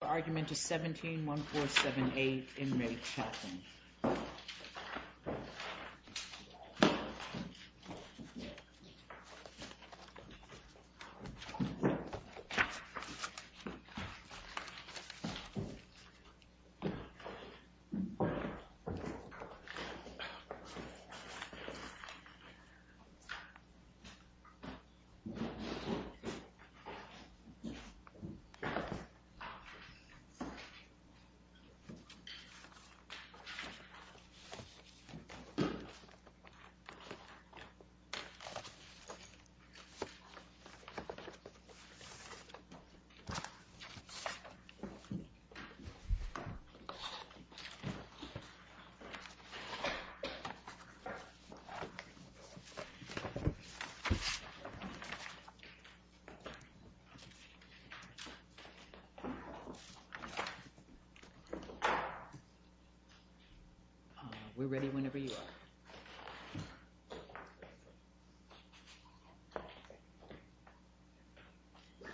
The argument is 17-1478 in Re Chaplin. The argument is 17-1478 in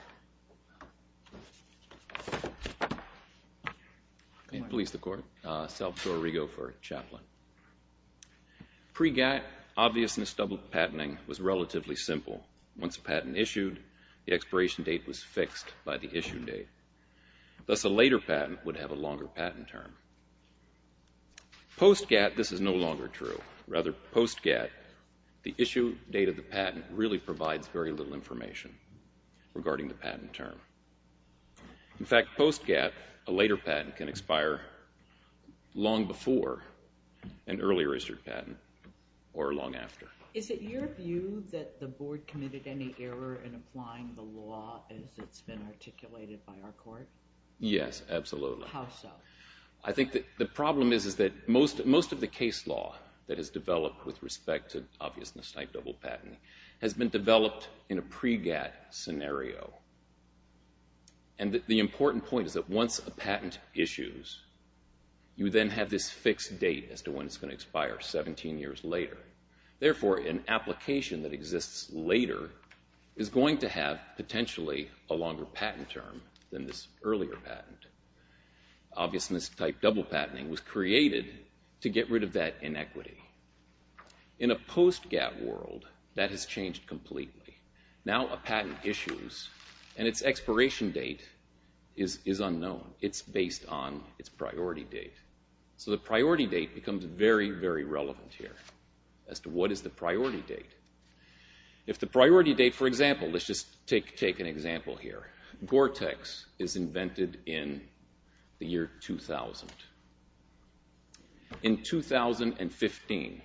Re Chaplin. Pre-GATT, obviousness double patenting was relatively simple. Once a patent issued, the expiration date was fixed by the issue date. Thus, a later patent would have a longer patent term. Post-GATT, this is no longer true. Rather, post-GATT, the issue date of the patent really provides very little information regarding the patent term. In fact, post-GATT, a later patent can expire long before an early registered patent or long after. Is it your view that the Board committed any error in applying the law as it's been articulated by our court? Yes, absolutely. How so? I think that the problem is that most of the case law that has developed with respect to obviousness double patenting has been developed in a Pre-GATT scenario. The important point is that once a patent issues, you then have this fixed date as to when it's going to expire, 17 years later. Therefore, an application that exists later is going to have potentially a longer patent term than this earlier patent. Obviousness type double patenting was created to get rid of that inequity. In a post-GATT world, that has changed completely. Now a patent issues and its expiration date is unknown. It's based on its priority date. So the priority date becomes very, very relevant here as to what is the priority date. If the priority date, for example, let's just take an example here. Gore-Tex is invented in the year 2000. In 2015,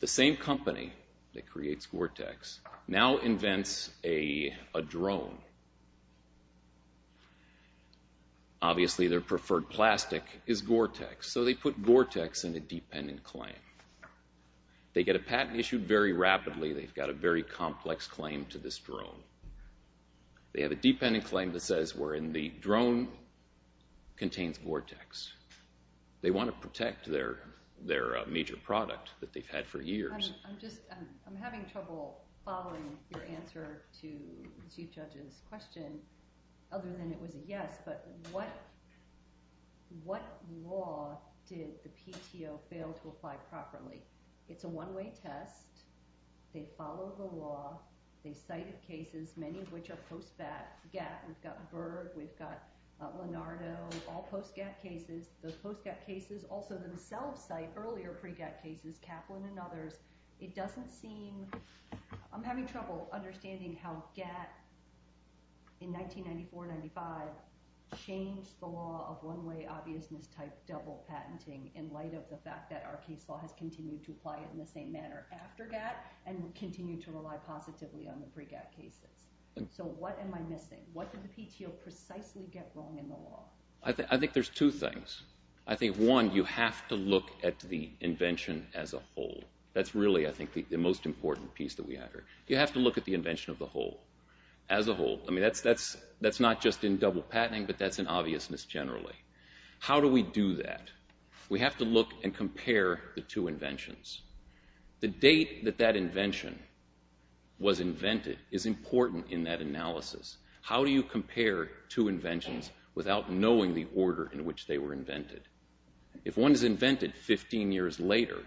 the same company that creates Gore-Tex now invents a drone. Obviously, their preferred plastic is Gore-Tex. So they put Gore-Tex in a dependent claim. They get a patent issued very rapidly. They've got a very complex claim to this drone. They have a dependent claim that says wherein the drone contains Gore-Tex. They want to protect their major product that they've had for years. I'm having trouble following your answer to the Chief Judge's question, other than it was a yes. But what law did the PTO fail to apply properly? It's a one-way test. They follow the law. They cite cases, many of which are post-GATT. We've got Berg. We've got Leonardo, all post-GATT cases. Those post-GATT cases also themselves cite earlier pre-GATT cases, Kaplan and others. It doesn't seem – I'm having trouble understanding how GATT, in 1994-95, changed the law of one-way obviousness type double patenting in light of the fact that our case law has continued to apply it in the same manner after GATT and continued to rely positively on the pre-GATT cases. So what am I missing? What did the PTO precisely get wrong in the law? I think there's two things. I think, one, you have to look at the invention as a whole. That's really, I think, the most important piece that we have here. You have to look at the invention of the whole, as a whole. I mean, that's not just in double patenting, but that's in obviousness generally. How do we do that? We have to look and compare the two inventions. The date that that invention was invented is important in that analysis. How do you compare two inventions without knowing the order in which they were invented? If one is invented 15 years later,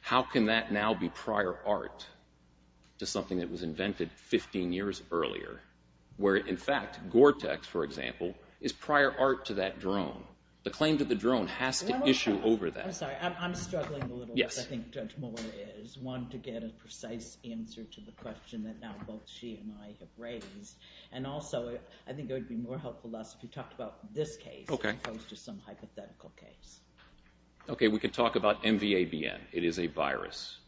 how can that now be prior art to something that was invented 15 years earlier, where, in fact, Gore-Tex, for example, is prior art to that drone? The claim to the drone has to issue over that. I'm sorry. I'm struggling a little. Yes. I think Judge Moore is wanting to get a precise answer to the question that now both she and I have raised. Also, I think it would be more helpful if you talked about this case as opposed to some hypothetical case. Okay, we could talk about MVABN. It is a virus.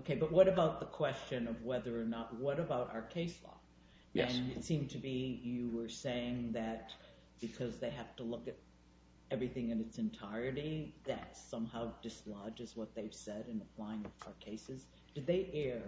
Okay, but what about the question of whether or not, what about our case law? Yes. It seemed to be you were saying that because they have to look at everything in its entirety, that somehow dislodges what they've said in applying our cases. Did they err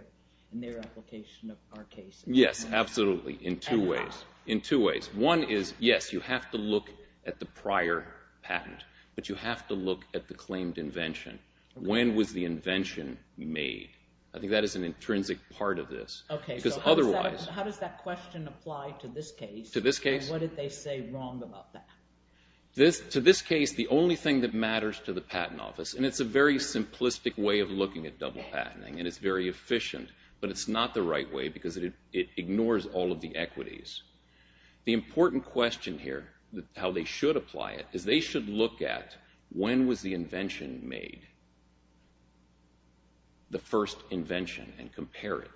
in their application of our cases? Yes, absolutely, in two ways. And how? In two ways. One is, yes, you have to look at the prior patent, but you have to look at the claimed invention. When was the invention made? I think that is an intrinsic part of this. Okay, so how does that question apply to this case? To this case? What did they say wrong about that? To this case, the only thing that matters to the patent office, and it's a very simplistic way of looking at double patenting, and it's very efficient, but it's not the right way because it ignores all of the equities. The important question here, how they should apply it, is they should look at when was the invention made, the first invention, and compare it.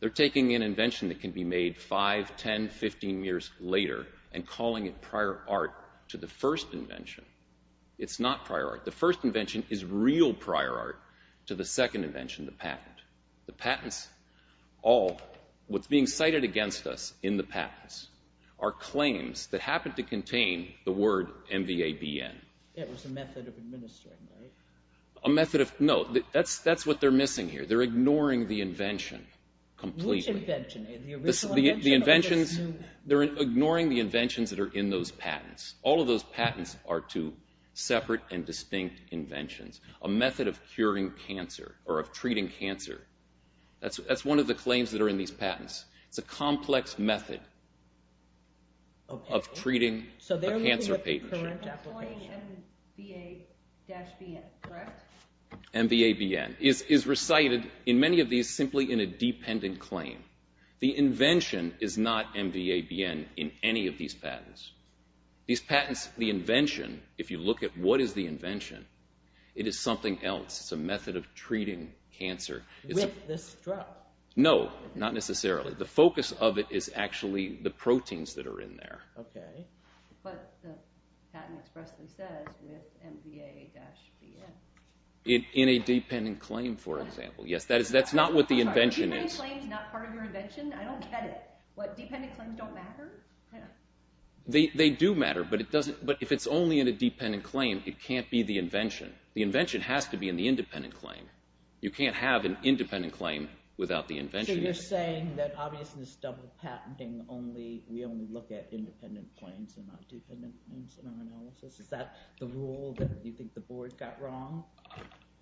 They're taking an invention that can be made 5, 10, 15 years later and calling it prior art to the first invention. It's not prior art. The first invention is real prior art to the second invention, the patent. The patents all, what's being cited against us in the patents, are claims that happen to contain the word MVABN. It was a method of administering, right? A method of, no, that's what they're missing here. They're ignoring the invention completely. Which invention? The original invention? The inventions, they're ignoring the inventions that are in those patents. All of those patents are two separate and distinct inventions, a method of curing cancer or of treating cancer. That's one of the claims that are in these patents. It's a complex method of treating a cancer patient. MVABN, correct? MVABN is recited in many of these simply in a dependent claim. The invention is not MVABN in any of these patents. These patents, the invention, if you look at what is the invention, it is something else. It's a method of treating cancer. With this drug? No, not necessarily. The focus of it is actually the proteins that are in there. Okay. But the patent expressly says with MVABN. In a dependent claim, for example, yes. That's not what the invention is. Dependent claims not part of your invention? I don't get it. What, dependent claims don't matter? They do matter, but if it's only in a dependent claim, it can't be the invention. The invention has to be in the independent claim. You can't have an independent claim without the invention. So you're saying that obviously this double patenting, we only look at independent claims and not dependent claims in our analysis? Is that the rule that you think the board got wrong?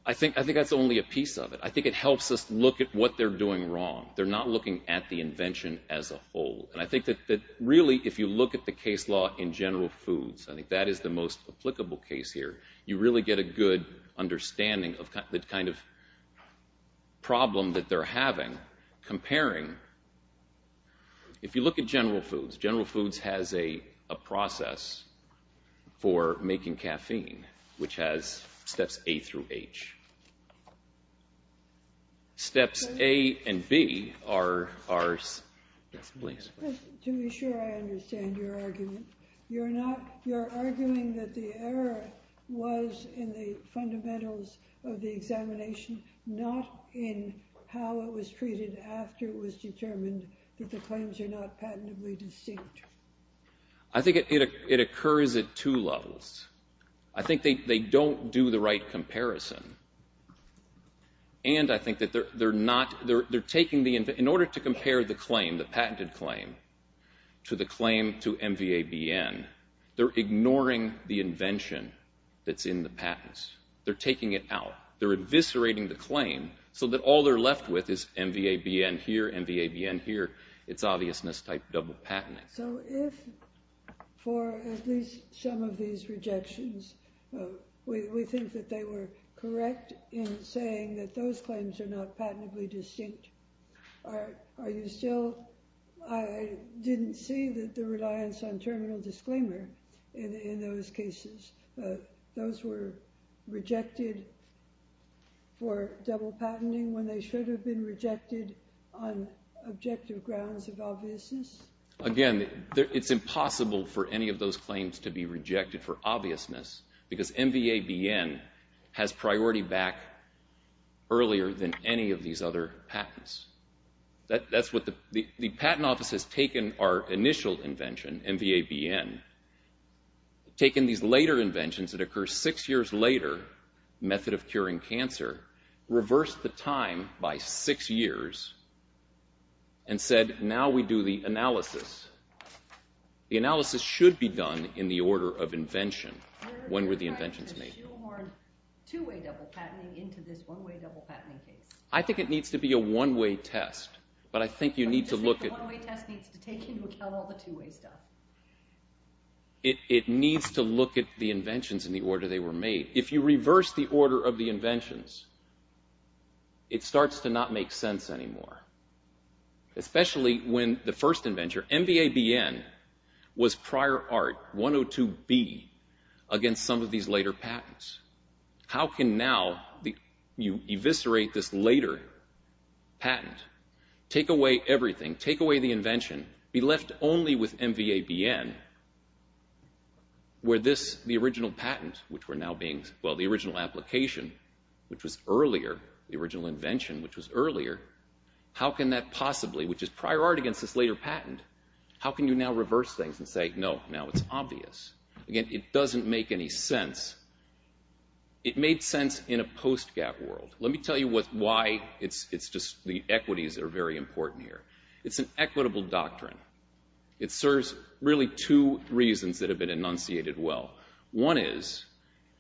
I think that's only a piece of it. I think it helps us look at what they're doing wrong. They're not looking at the invention as a whole. And I think that really if you look at the case law in General Foods, I think that is the most applicable case here, you really get a good understanding of the kind of problem that they're having. Comparing, if you look at General Foods, General Foods has a process for making caffeine, which has steps A through H. Steps A and B are, yes, please. To be sure I understand your argument. You're arguing that the error was in the fundamentals of the examination, not in how it was treated after it was determined that the claims are not patentably distinct. I think it occurs at two levels. I think they don't do the right comparison. And I think that they're not, they're taking the, in order to compare the claim, the patented claim, to the claim to MVABN, they're ignoring the invention that's in the patents. They're taking it out. They're eviscerating the claim so that all they're left with is MVABN here, MVABN here, it's obviousness type double patenting. So if for at least some of these rejections, we think that they were correct in saying that those claims are not patently distinct, are you still, I didn't see that the reliance on terminal disclaimer in those cases, those were rejected for double patenting when they should have been rejected on objective grounds of obviousness? Again, it's impossible for any of those claims to be rejected for obviousness because MVABN has priority back earlier than any of these other patents. That's what the, the patent office has taken our initial invention, MVABN, taken these later inventions that occur six years later, method of curing cancer, reversed the time by six years, and said, now we do the analysis. The analysis should be done in the order of invention. When were the inventions made? Two-way double patenting into this one-way double patenting case. I think it needs to be a one-way test, but I think you need to look at. I think the one-way test needs to take into account all the two-way stuff. It needs to look at the inventions in the order they were made. If you reverse the order of the inventions, it starts to not make sense anymore, especially when the first invention, MVABN, was prior art, 102B, against some of these later patents. How can now you eviscerate this later patent, take away everything, take away the invention, be left only with MVABN, where this, the original patent, which were now being, well, the original application, which was earlier, the original invention, which was earlier, how can that possibly, which is prior art against this later patent, how can you now reverse things and say, no, now it's obvious? Again, it doesn't make any sense. It made sense in a post-gap world. Let me tell you why it's just, the equities are very important here. It's an equitable doctrine. It serves really two reasons that have been enunciated well. One is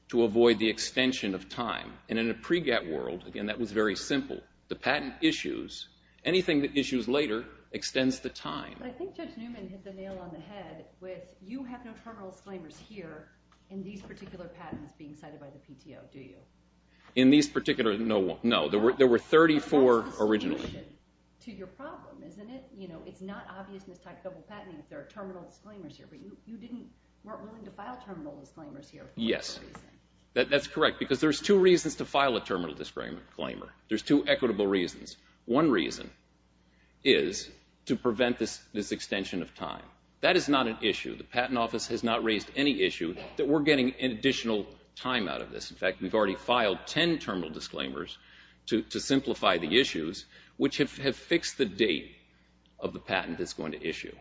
to avoid the extension of time, and in a pre-gap world, again, that was very simple. The patent issues, anything that issues later extends the time. But I think Judge Newman hit the nail on the head with, you have no terminal disclaimers here in these particular patents being cited by the PTO, do you? In these particular, no, there were 34 originally. It's not obvious in this type of patenting if there are terminal disclaimers here, but you weren't willing to file terminal disclaimers here for whatever reason. Yes, that's correct, because there's two reasons to file a terminal disclaimer. There's two equitable reasons. One reason is to prevent this extension of time. That is not an issue. The Patent Office has not raised any issue that we're getting additional time out of this. In fact, we've already filed 10 terminal disclaimers to simplify the issues, which have fixed the date of the patent that's going to issue.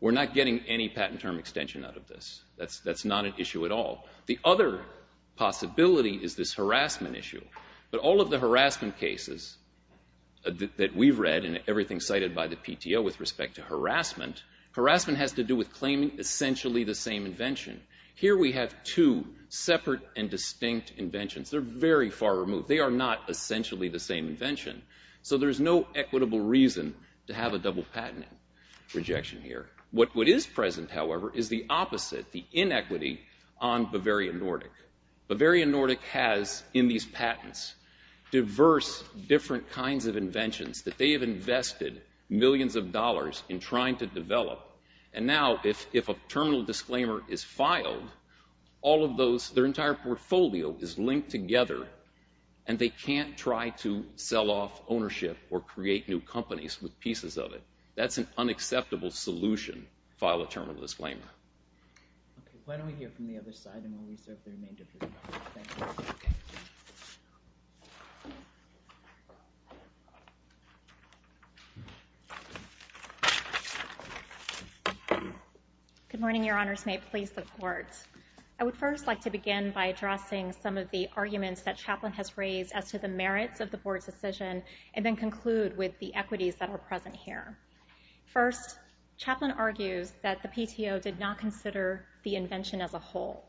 We're not getting any patent term extension out of this. That's not an issue at all. The other possibility is this harassment issue. But all of the harassment cases that we've read and everything cited by the PTO with respect to harassment, harassment has to do with claiming essentially the same invention. Here we have two separate and distinct inventions. They're very far removed. They are not essentially the same invention. So there's no equitable reason to have a double patent rejection here. What is present, however, is the opposite, the inequity on Bavarian Nordic. Bavarian Nordic has in these patents diverse different kinds of inventions that they have invested millions of dollars in trying to develop. And now if a terminal disclaimer is filed, all of those, their entire portfolio is linked together, and they can't try to sell off ownership or create new companies with pieces of it. That's an unacceptable solution, file a terminal disclaimer. Why don't we hear from the other side, and we'll reserve the remainder of your time. Good morning, Your Honors. May it please the Court. I would first like to begin by addressing some of the arguments that Chaplain has raised as to the merits of the Board's decision and then conclude with the equities that are present here. First, Chaplain argues that the PTO did not consider the invention as a whole.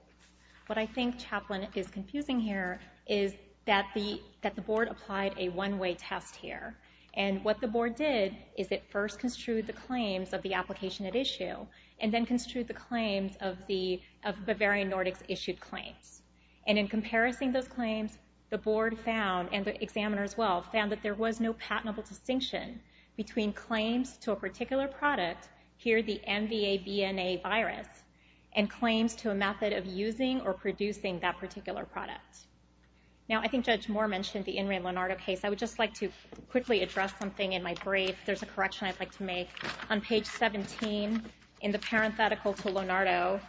What I think Chaplain is confusing here is that the Board applied a one-way test here. And what the Board did is it first construed the claims of the application at issue and then construed the claims of the Bavarian Nordic's issued claims. And in comparison to those claims, the Board found, and the examiners as well, found that there was no patentable distinction between claims to a particular product, here the MVA-BNA virus, and claims to a method of using or producing that particular product. Now, I think Judge Moore mentioned the Ingram-Lonardo case. I would just like to quickly address something in my brief. There's a correction I'd like to make. On page 17, in the parenthetical to Lonardo,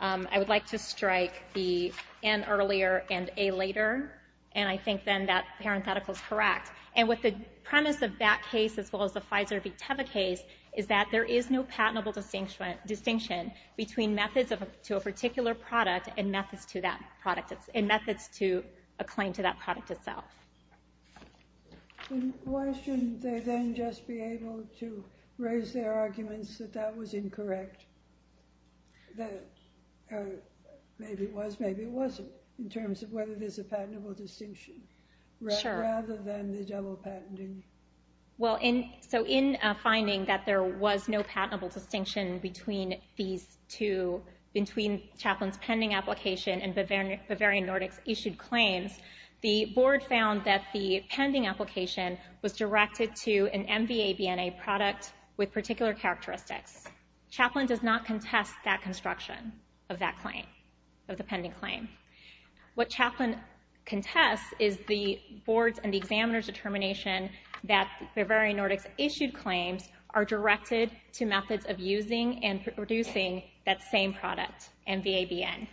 I would like to strike the N earlier and A later, and I think then that parenthetical is correct. And what the premise of that case, as well as the Pfizer-B-Teva case, is that there is no patentable distinction between methods to a particular product and methods to a claim to that product itself. Why shouldn't they then just be able to raise their arguments that that was incorrect? Maybe it was, maybe it wasn't, in terms of whether there's a patentable distinction, rather than the double patenting. Well, so in finding that there was no patentable distinction between these two, between Chaplin's pending application and Bavarian Nordic's issued claims, the Board found that the pending application was directed to an MVA-BNA product with particular characteristics. Chaplin does not contest that construction of that claim, of the pending claim. What Chaplin contests is the Board's and the examiner's determination that Bavarian Nordic's issued claims are directed to methods of using and producing that same product, MVA-BN.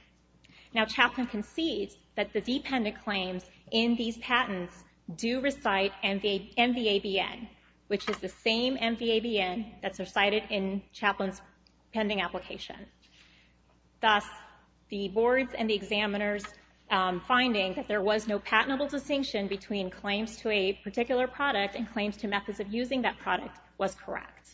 Now, Chaplin concedes that the dependent claims in these patents do recite MVA-BN, which is the same MVA-BN that's recited in Chaplin's pending application. Thus, the Board's and the examiner's finding that there was no patentable distinction between claims to a particular product and claims to methods of using that product was correct.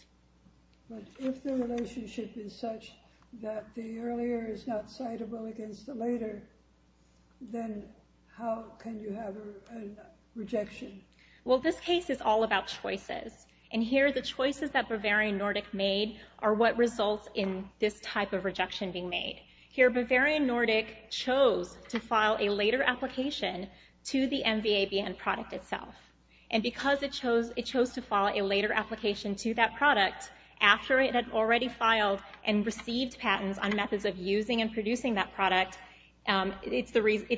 But if the relationship is such that the earlier is not citable against the later, then how can you have a rejection? Well, this case is all about choices, and here the choices that Bavarian Nordic made are what results in this type of rejection being made. Here, Bavarian Nordic chose to file a later application to the MVA-BN product itself, and because it chose to file a later application to that product after it had already filed and received patents on methods of using and producing that product, it's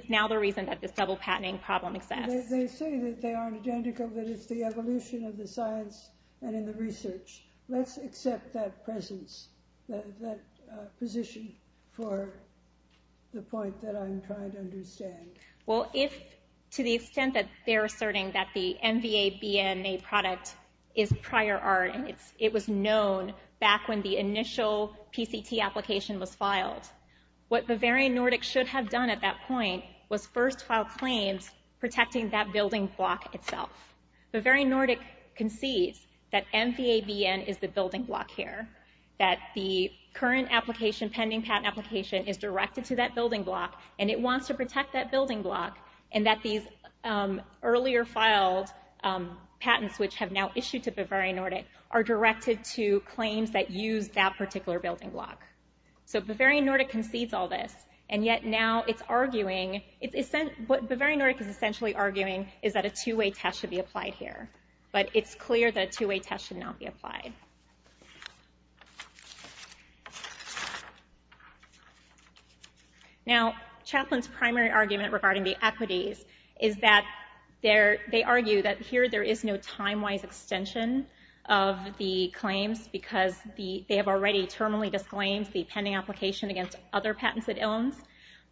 now the reason that this double-patenting problem exists. They say that they aren't identical, but it's the evolution of the science and in the research. Let's accept that position for the point that I'm trying to understand. Well, to the extent that they're asserting that the MVA-BN product is prior art, it was known back when the initial PCT application was filed. What Bavarian Nordic should have done at that point was first file claims protecting that building block itself. Bavarian Nordic concedes that MVA-BN is the building block here, that the current pending patent application is directed to that building block, and it wants to protect that building block, and that these earlier filed patents, which have now issued to Bavarian Nordic, are directed to claims that use that particular building block. So Bavarian Nordic concedes all this, and yet now it's arguing. What Bavarian Nordic is essentially arguing is that a two-way test should be applied here, but it's clear that a two-way test should not be applied. Now, Chaplin's primary argument regarding the equities is that they argue that here there is no time-wise extension of the claims, because they have already terminally disclaimed the pending application against other patents it owns.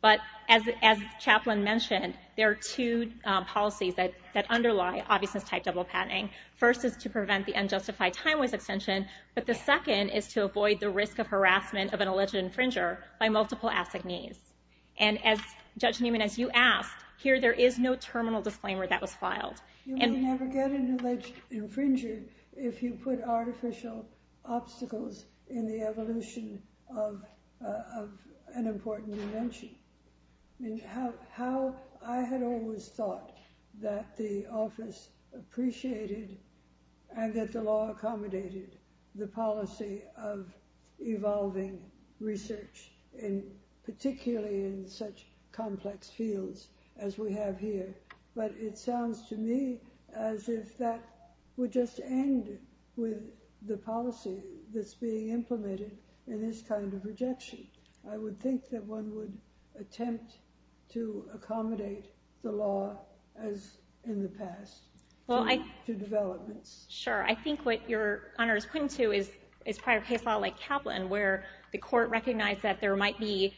But as Chaplin mentioned, there are two policies that underlie obviousness-type double patenting. First is to prevent the unjustified time-wise extension, but the second is to avoid the risk of harassment of an alleged infringer by multiple assignees. And as Judge Newman, as you asked, here there is no terminal disclaimer that was filed. You would never get an alleged infringer if you put artificial obstacles in the evolution of an important invention. I had always thought that the office appreciated and that the law accommodated the policy of evolving research, particularly in such complex fields as we have here. But it sounds to me as if that would just end with the policy that's being implemented in this kind of rejection. I would think that one would attempt to accommodate the law as in the past to developments. Sure. I think what Your Honor is pointing to is prior case law like Chaplin, where the court recognized that there might be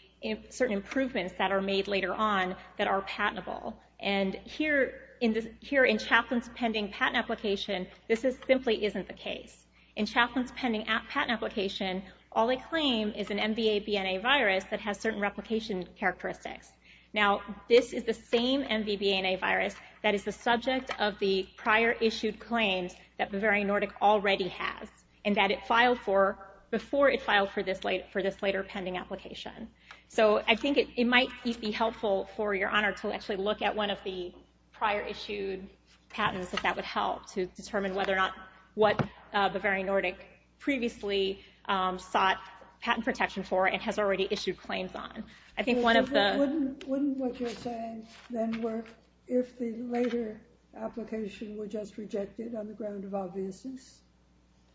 certain improvements that are made later on that are patentable. And here in Chaplin's pending patent application, this simply isn't the case. In Chaplin's pending patent application, all they claim is an MVA-BNA virus that has certain replication characteristics. Now this is the same MVB-NA virus that is the subject of the prior issued claims that Bavarian Nordic already has and that it filed for before it filed for this later pending application. So I think it might be helpful for Your Honor to actually look at one of the prior issued patents if that would help to determine what Bavarian Nordic previously sought patent protection for and has already issued claims on. Wouldn't what you're saying then work if the later application were just rejected on the ground of obviousness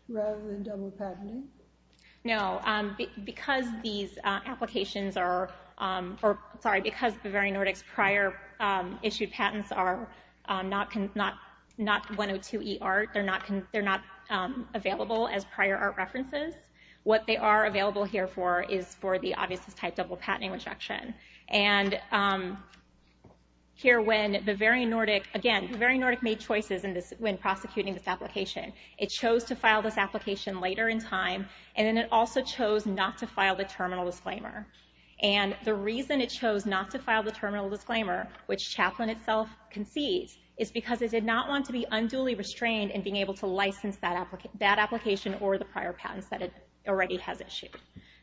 rather than double patenting? No. Because Bavarian Nordic's prior issued patents are not 102e art, they're not available as prior art references, what they are available here for is for the obviousness type double patenting rejection. And here when Bavarian Nordic made choices when prosecuting this application, it chose to file this application later in time, and then it also chose not to file the terminal disclaimer. And the reason it chose not to file the terminal disclaimer, which Chaplin itself concedes, is because it did not want to be unduly restrained in being able to license that application or the prior patents that it already has issued.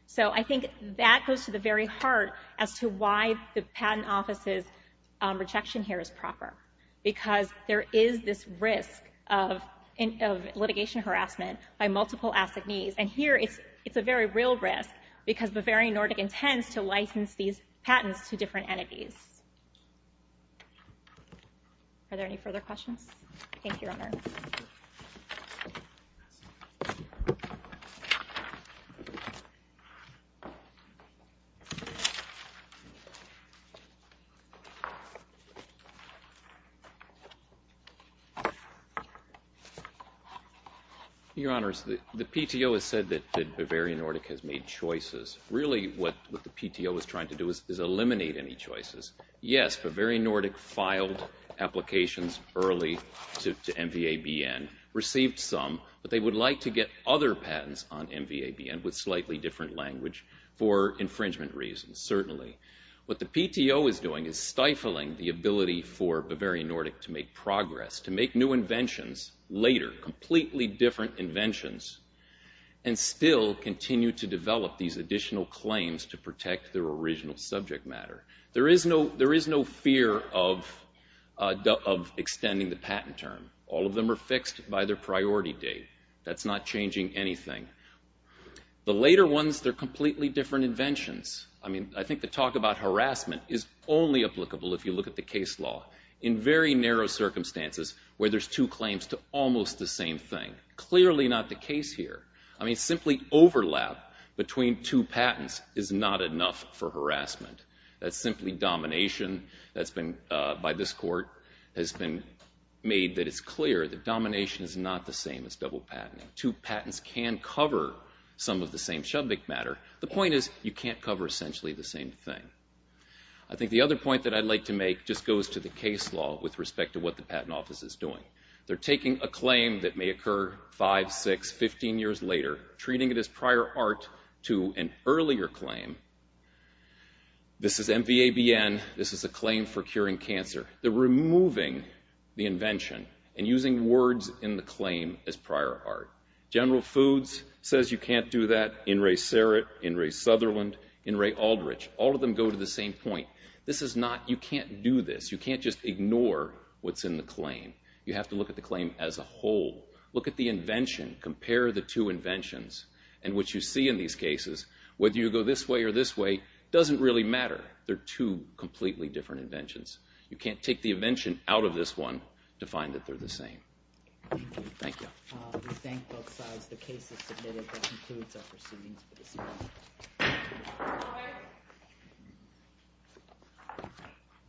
So I think that goes to the very heart as to why the patent office's rejection here is proper. Because there is this risk of litigation harassment by multiple assignees, and here it's a very real risk because Bavarian Nordic intends to license these patents to different entities. Are there any further questions? Thank you, Your Honor. Your Honor, the PTO has said that Bavarian Nordic has made choices. Really what the PTO is trying to do is eliminate any choices. Yes, Bavarian Nordic filed applications early to MVABN, received some, but they would like to get other patents on MVABN with slightly different language for infringement reasons, certainly. What the PTO is doing is stifling the ability for Bavarian Nordic to make progress, to make new inventions later, completely different inventions, and still continue to develop these additional claims to protect their original subject matter. There is no fear of extending the patent term. All of them are fixed by their priority date. That's not changing anything. The later ones, they're completely different inventions. I mean, I think the talk about harassment is only applicable if you look at the case law. In very narrow circumstances where there's two claims to almost the same thing. Clearly not the case here. I mean, simply overlap between two patents is not enough for harassment. That's simply domination. That's been, by this Court, has been made that it's clear that domination is not the same as double patenting. Two patents can cover some of the same subject matter. The point is you can't cover essentially the same thing. I think the other point that I'd like to make just goes to the case law with respect to what the Patent Office is doing. They're taking a claim that may occur five, six, 15 years later, treating it as prior art to an earlier claim. This is MVABN. This is a claim for curing cancer. They're removing the invention and using words in the claim as prior art. General Foods says you can't do that. In re Serret. In re Sutherland. In re Aldrich. All of them go to the same point. This is not, you can't do this. You can't just ignore what's in the claim. You have to look at the claim as a whole. Look at the invention. Compare the two inventions. And what you see in these cases, whether you go this way or this way, doesn't really matter. They're two completely different inventions. You can't take the invention out of this one to find that they're the same. Thank you. Thank you. We thank both sides. The case is submitted. That concludes our proceedings for this evening. Thank you.